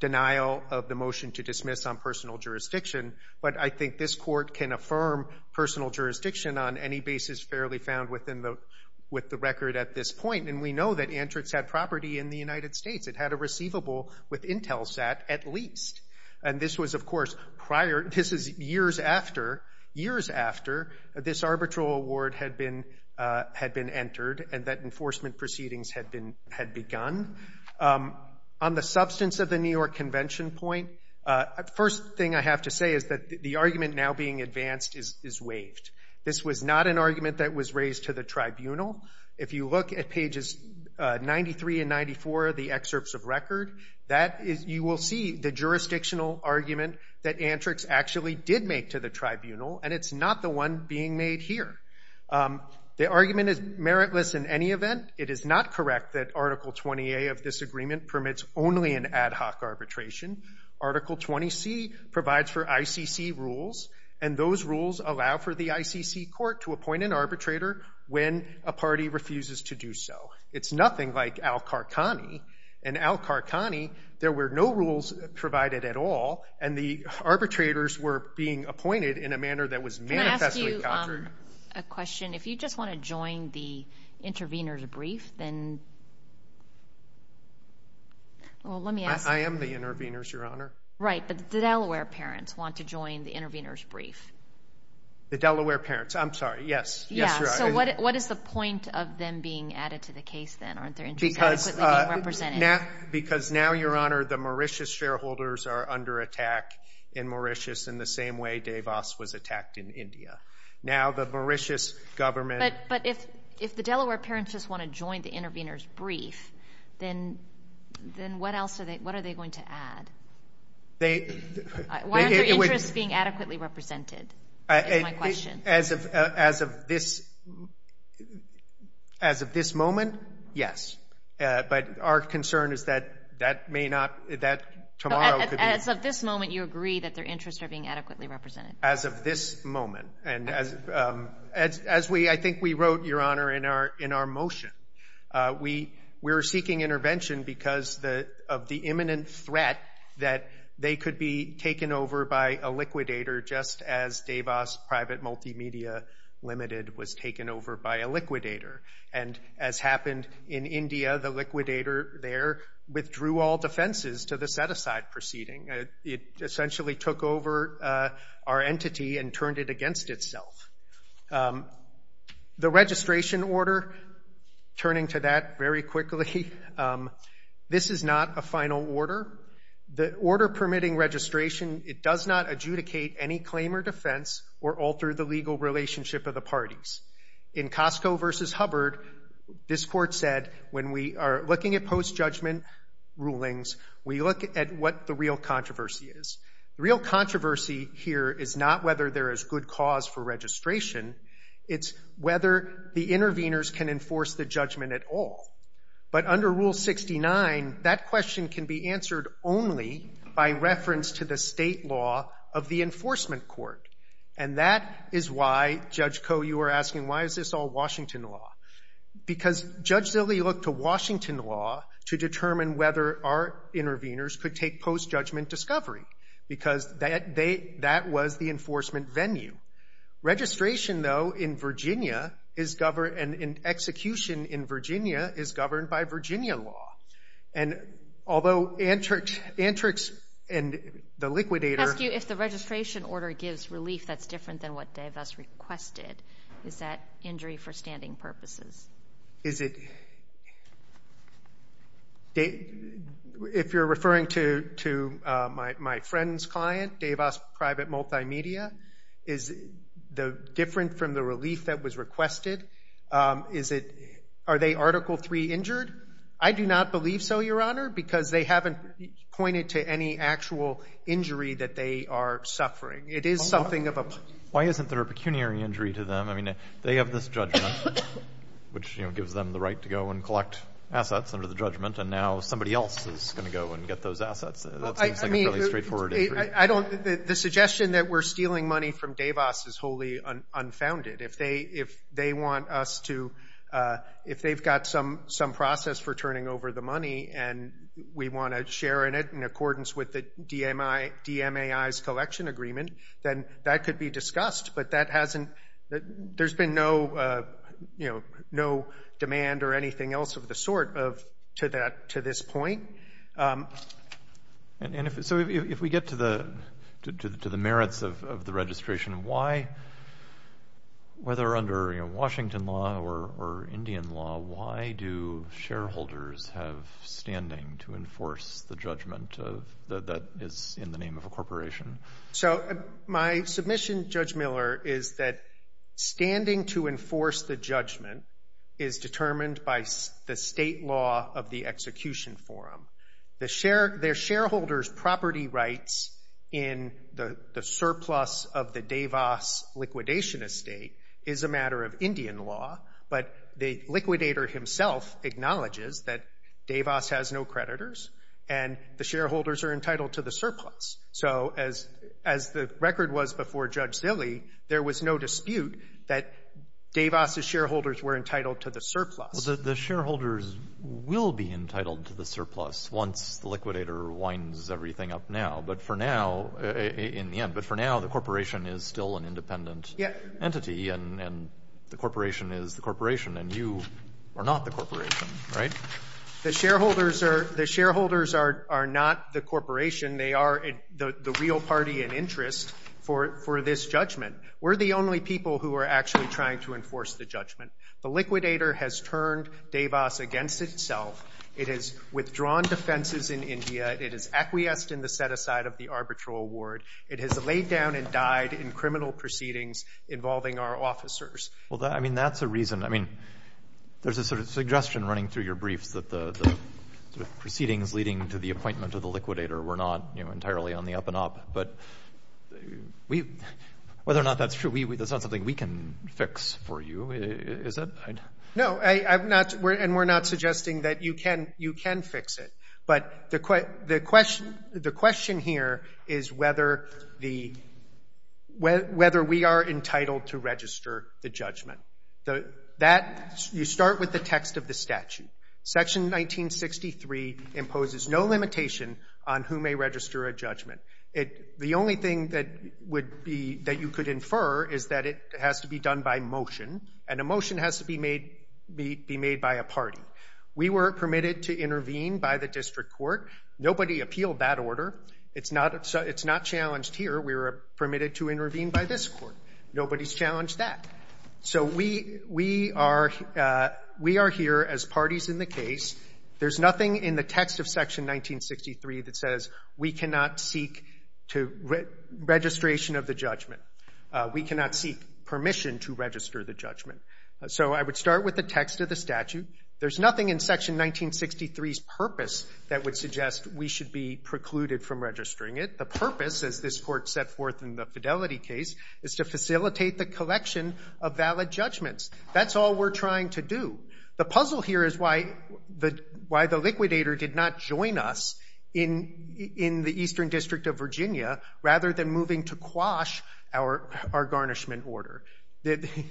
denial of the motion to dismiss on personal jurisdiction. But I think this court can affirm personal jurisdiction on any basis fairly found with the record at this point. And we know that Antrics had property in the United States. It had a receivable with Intelsat at least. And this was of course prior, this is years after, years after this arbitral award had been entered and that enforcement proceedings had begun. On the substance of the New York Convention point, first thing I have to say is that the argument now being advanced is waived. This was not an argument that was raised to the tribunal. If you look at pages 93 and 94 of the excerpts of record, you will see the jurisdictional argument that Antrics actually did make to the tribunal, and it's not the one being made here. The argument is meritless in any event. It is not correct that Article 20A of this agreement permits only an ad hoc arbitration. Article 20C provides for ICC rules, and those rules allow for the ICC court to appoint an arbitrator when a party refuses to do so. It's nothing like Al-Qarqani. In Al-Qarqani, there were no rules provided at all, and the arbitrators were being appointed in a manner that was manifestly countered. Can I ask you a question? If you just want to join the intervener's brief, then... Well, let me ask... I am the intervener's, Your Honor. Right, but the Delaware parents want to join the intervener's brief. The Delaware parents, I'm sorry, yes. Yes, Your Honor. So what is the point of them being added to the case then? Aren't their interests adequately being represented? Because now, Your Honor, the Mauritius shareholders are under attack in Mauritius in the same way Davos was attacked in India. Now the Mauritius government... But if the Delaware parents just want to join the intervener's brief, then what else are they going to add? Why aren't their interests being adequately represented, is my question. As of this moment, yes. But our concern is that tomorrow could be... As of this moment, you agree that their interests are being adequately represented? As of this moment. As I think we wrote, Your Honor, in our motion, we were seeking intervention because of the imminent threat that they could be taken over by a liquidator just as Davos Private Multimedia Limited was taken over by a liquidator. And as happened in India, the liquidator there withdrew all defenses to the set-aside proceeding. It essentially took over our entity and turned it against itself. The registration order, turning to that very quickly, this is not a final order. The order permitting registration, it does not adjudicate any claim or defense or alter the legal relationship of the parties. In Costco v. Hubbard, this Court said, when we are looking at post-judgment rulings, we look at what the real controversy is. The real controversy here is not whether there is good cause for registration. It's whether the interveners can enforce the judgment at all. But under Rule 69, that question can be answered only by reference to the state law of the enforcement court. And that is why, Judge Koh, you were asking, why is this all Washington law? Because Judge Zille looked to Washington law to determine whether our interveners could take post-judgment discovery because that was the enforcement venue. Registration, though, in Virginia is governed and execution in Virginia is governed by Virginia law. And although Antrix and the liquidator... I ask you if the registration order gives relief that's different than what DeVos requested. Is that injury for standing purposes? Is it... If you're referring to my friend's client, DeVos Private Multimedia, is it different from the relief that was requested? Are they Article III injured? I do not believe so, Your Honor, because they haven't pointed to any actual injury that they are suffering. It is something of a... Why isn't there a pecuniary injury to them? I mean, they have this judgment, which gives them the right to go and collect assets under the judgment, and now somebody else is going to go and get those assets. That seems like a fairly straightforward injury. The suggestion that we're stealing money from DeVos is wholly unfounded. If they want us to... If they've got some process for turning over the money and we want to share in it in accordance with the DMAI's collection agreement, then that could be discussed, but that hasn't... There's been no demand or anything else of the sort to this point. And so if we get to the merits of the registration, why, whether under Washington law or Indian law, why do shareholders have standing to enforce the judgment that is in the name of a corporation? So my submission, Judge Miller, is that standing to enforce the judgment is determined by the state law of the execution forum. Their shareholders' property rights in the surplus of the DeVos liquidation estate is a matter of Indian law, but the liquidator himself acknowledges that DeVos has no creditors and the shareholders are entitled to the surplus. So as the record was before Judge Zille, there was no dispute that DeVos' shareholders were entitled to the surplus. Well, the shareholders will be entitled to the surplus once the liquidator winds everything up now, but for now, in the end, but for now the corporation is still an independent entity and the corporation is the corporation and you are not the corporation, right? The shareholders are not the corporation. They are the real party in interest for this judgment. We're the only people who are actually trying to enforce the judgment. The liquidator has turned DeVos against itself. It has withdrawn defenses in India. It has acquiesced in the set-aside of the arbitral award. It has laid down and died in criminal proceedings involving our officers. Well, I mean, that's a reason. I mean, there's a sort of suggestion running through your briefs that the proceedings leading to the appointment of the liquidator were not entirely on the up-and-up, but whether or not that's true, that's not something we can fix for you, is it? No, and we're not suggesting that you can fix it, but the question here is whether we are entitled to register the judgment. You start with the text of the statute. Section 1963 imposes no limitation on who may register a judgment. The only thing that you could infer is that it has to be done by motion, and a motion has to be made by a party. We were permitted to intervene by the district court. Nobody appealed that order. It's not challenged here. We were permitted to intervene by this court. Nobody's challenged that. So we are here as parties in the case. There's nothing in the text of Section 1963 that says we cannot seek registration of the judgment. We cannot seek permission to register the judgment. So I would start with the text of the statute. There's nothing in Section 1963's purpose that would suggest we should be precluded from registering it. The purpose, as this court set forth in the Fidelity case, is to facilitate the collection of valid judgments. That's all we're trying to do. The puzzle here is why the liquidator did not join us in the Eastern District of Virginia rather than moving to quash our garnishment order.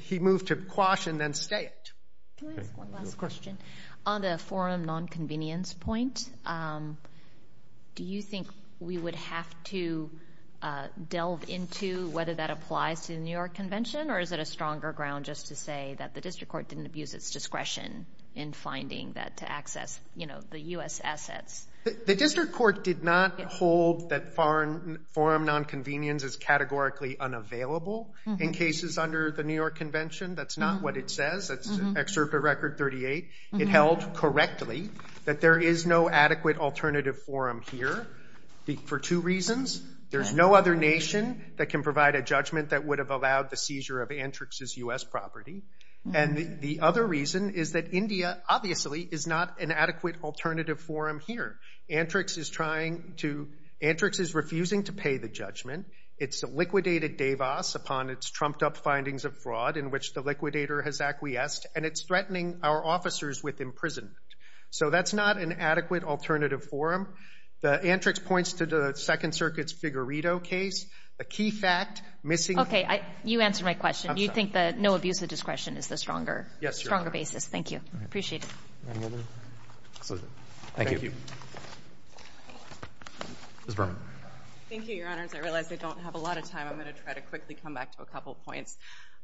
He moved to quash and then stay it. Can I ask one last question? On the forum nonconvenience point, do you think we would have to delve into whether that applies to the New York Convention, or is it a stronger ground just to say that the district court didn't abuse its discretion in finding that to access, you know, the U.S. assets? The district court did not hold that forum nonconvenience is categorically unavailable in cases under the New York Convention. That's not what it says. That's Excerpt of Record 38. It held correctly that there is no adequate alternative forum here for two reasons. There's no other nation that can provide a judgment that would have allowed the seizure of Antrix's U.S. property. And the other reason is that India, obviously, is not an adequate alternative forum here. Antrix is trying to... Antrix is refusing to pay the judgment. It's liquidated Davos upon its trumped-up findings of fraud in which the liquidator has acquiesced, and it's threatening our officers with imprisonment. So that's not an adequate alternative forum. The Antrix points to the Second Circuit's Figurito case. The key fact, missing... Okay, you answered my question. Do you think that no abuse of discretion is the stronger basis? Yes, Your Honor. Thank you. Appreciate it. Thank you. Ms. Berman. Thank you, Your Honors. I realize I don't have a lot of time. I'm going to try to quickly come back to a couple points.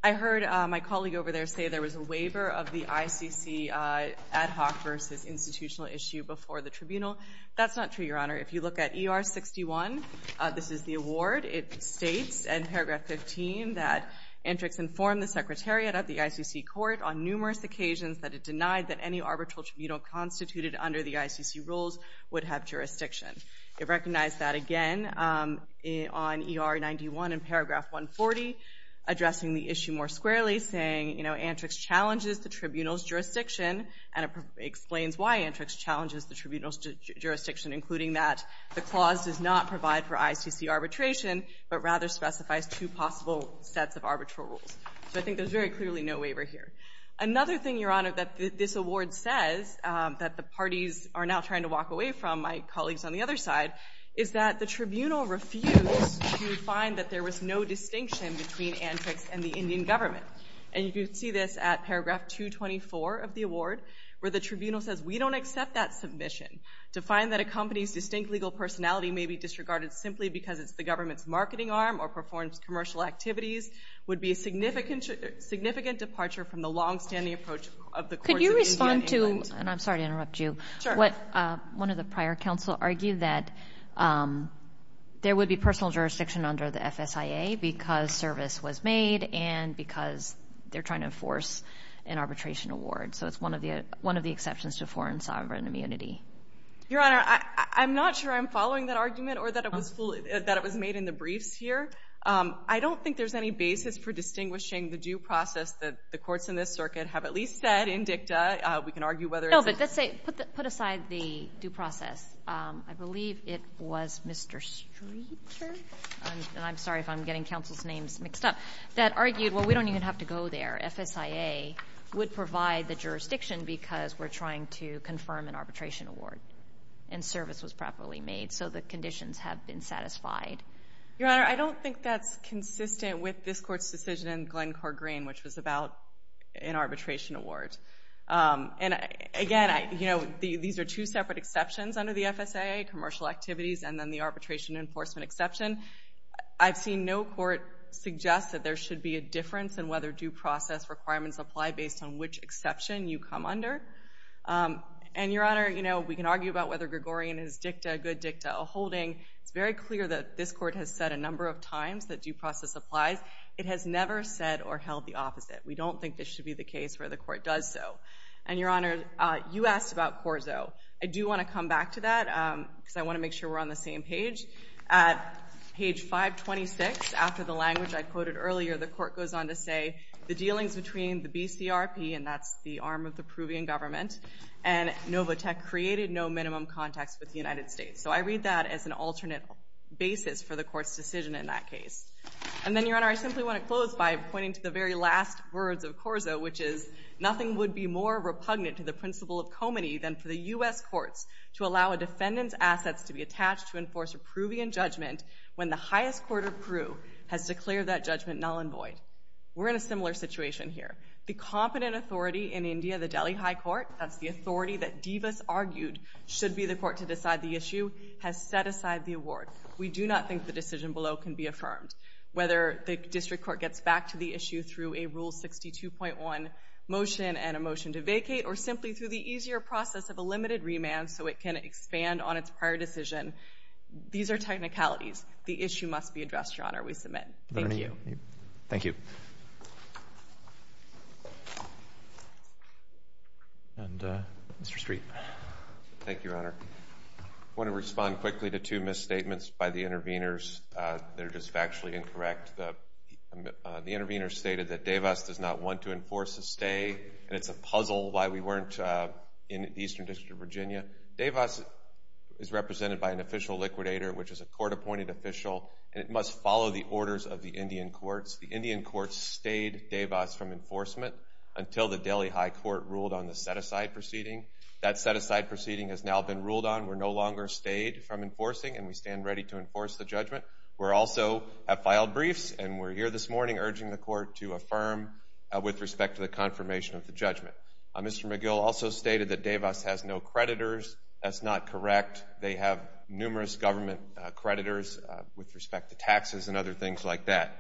I heard my colleague over there say there was a waiver of the ICC ad hoc versus institutional issue before the tribunal. That's not true, Your Honor. If you look at ER-61, this is the award. It states in paragraph 15 that Antrix informed the Secretariat of the ICC Court on numerous occasions that it denied that any arbitral tribunal constituted under the ICC rules would have jurisdiction. It recognized that again on ER-91 in paragraph 140, addressing the issue more squarely, saying Antrix challenges the tribunal's jurisdiction and explains why Antrix challenges the tribunal's jurisdiction, including that the clause does not provide for ICC arbitration, but rather specifies two possible sets of arbitral rules. So I think there's very clearly no waiver here. Another thing, Your Honor, that this award says that the parties are now trying to walk away from, my colleagues on the other side, is that the tribunal refused to find that there was no distinction between Antrix and the Indian government. And you can see this at paragraph 224 of the award, where the tribunal says, we don't accept that submission. To find that a company's distinct legal personality may be disregarded simply because it's the government's marketing arm or performs commercial activities would be a significant departure from the longstanding approach of the courts of India and England. Could you respond to, and I'm sorry to interrupt you, what one of the prior counsel argued, that there would be personal jurisdiction under the FSIA because service was made and because they're trying to enforce an arbitration award. So it's one of the exceptions to foreign sovereign immunity. Your Honor, I'm not sure I'm following that argument or that it was made in the briefs here. I don't think there's any basis for distinguishing the due process that the courts in this circuit have at least said in dicta. We can argue whether it's... No, but let's say, put aside the due process. I believe it was Mr. Streeter, and I'm sorry if I'm getting counsel's names mixed up, that argued, well, we don't even have to go there. FSIA would provide the jurisdiction because we're trying to confirm an arbitration award and service was properly made, so the conditions have been satisfied. Your Honor, I don't think that's consistent with this Court's decision in Glencore Green, which was about an arbitration award. And again, you know, these are two separate exceptions under the FSIA, commercial activities, and then the arbitration enforcement exception. I've seen no court suggest that there should be a difference in whether due process requirements apply based on which exception you come under. And, Your Honor, you know, we can argue about whether Gregorian is dicta, good dicta, a holding. It's very clear that this Court has said a number of times that due process applies. It has never said or held the opposite. We don't think this should be the case where the Court does so. And, Your Honor, you asked about CORSO. I do want to come back to that because I want to make sure we're on the same page. At page 526, after the language I quoted earlier, the Court goes on to say, the dealings between the BCRP, and that's the arm of the Peruvian government, and Novotek created no minimum context with the United States. So I read that as an alternate basis for the Court's decision in that case. And then, Your Honor, I simply want to close by pointing to the very last words of CORSO, which is nothing would be more repugnant to the principle of comity than for the U.S. courts to allow a defendant's assets to be attached to enforce a Peruvian judgment when the highest court of Peru has declared that judgment null and void. We're in a similar situation here. The competent authority in India, the Delhi High Court, that's the authority that Divas argued should be the court to decide the issue, has set aside the award. We do not think the decision below can be affirmed. Whether the District Court gets back to the issue through a Rule 62.1 motion and a motion to vacate, or simply through the easier process of a limited remand so it can expand on its prior decision, these are technicalities. The issue must be addressed, Your Honor. We submit. Thank you. Thank you. And Mr. Street. Thank you, Your Honor. I want to respond quickly to two misstatements by the intervenors that are just factually incorrect. The intervenor stated that Divas does not want to enforce a stay, and it's a puzzle why we weren't in the Eastern District of Virginia. Divas is represented by an official liquidator, which is a court-appointed official, and it must follow the orders of the Indian courts. The Indian courts stayed Divas from enforcement until the Delhi High Court ruled on the set-aside proceeding. That set-aside proceeding has now been ruled on. We're no longer stayed from enforcing, and we stand ready to enforce the judgment. We also have filed briefs, and we're here this morning urging the court to affirm with respect to the confirmation of the judgment. Mr. McGill also stated that Divas has no creditors. That's not correct. They have numerous government creditors with respect to taxes and other things like that.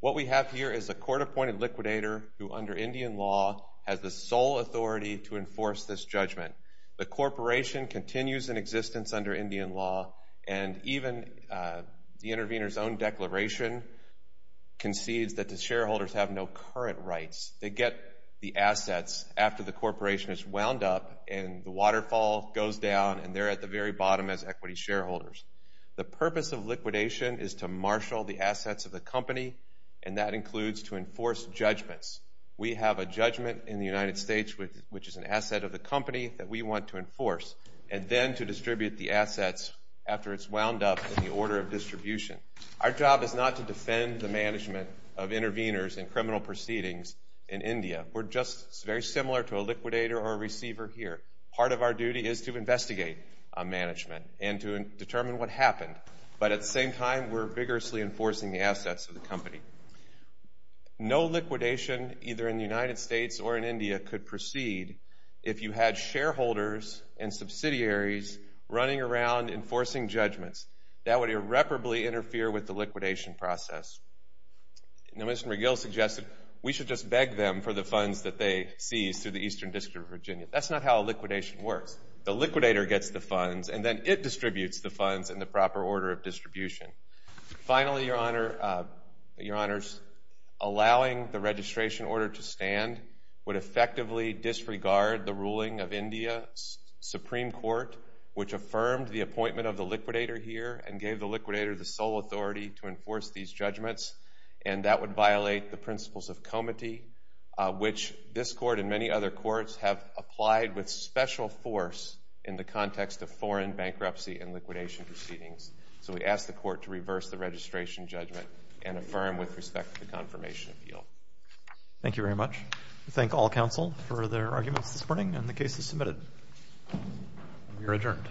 What we have here is a court-appointed liquidator who, under Indian law, has the sole authority to enforce this judgment. The corporation continues in existence under Indian law, and even the intervenor's own declaration concedes that the shareholders have no current rights. They get the assets after the corporation is wound up, and the waterfall goes down, and they're at the very bottom as equity shareholders. The purpose of liquidation is to marshal the assets of the company, and that includes to enforce judgments. We have a judgment in the United States, which is an asset of the company that we want to enforce, and then to distribute the assets after it's wound up in the order of distribution. Our job is not to defend the management of intervenors and criminal proceedings in India. We're just very similar to a liquidator or a receiver here. Part of our duty is to investigate management and to determine what happened, but at the same time we're vigorously enforcing the assets of the company. No liquidation, either in the United States or in India, could proceed if you had shareholders and subsidiaries running around enforcing judgments. That would irreparably interfere with the liquidation process. Now, Mr. McGill suggested we should just beg them for the funds that they seized through the Eastern District of Virginia. That's not how a liquidation works. The liquidator gets the funds, and then it distributes the funds in the proper order of distribution. Finally, Your Honors, allowing the registration order to stand would effectively disregard the ruling of India's Supreme Court, which affirmed the appointment of the liquidator here and gave the liquidator the sole authority to enforce these judgments, and that would violate the principles of comity, which this Court and many other courts have applied with special force in the context of foreign bankruptcy and liquidation proceedings. So we ask the Court to reverse the registration judgment and affirm with respect to the confirmation appeal. Thank you very much. We thank all counsel for their arguments this morning and the cases submitted. You're adjourned.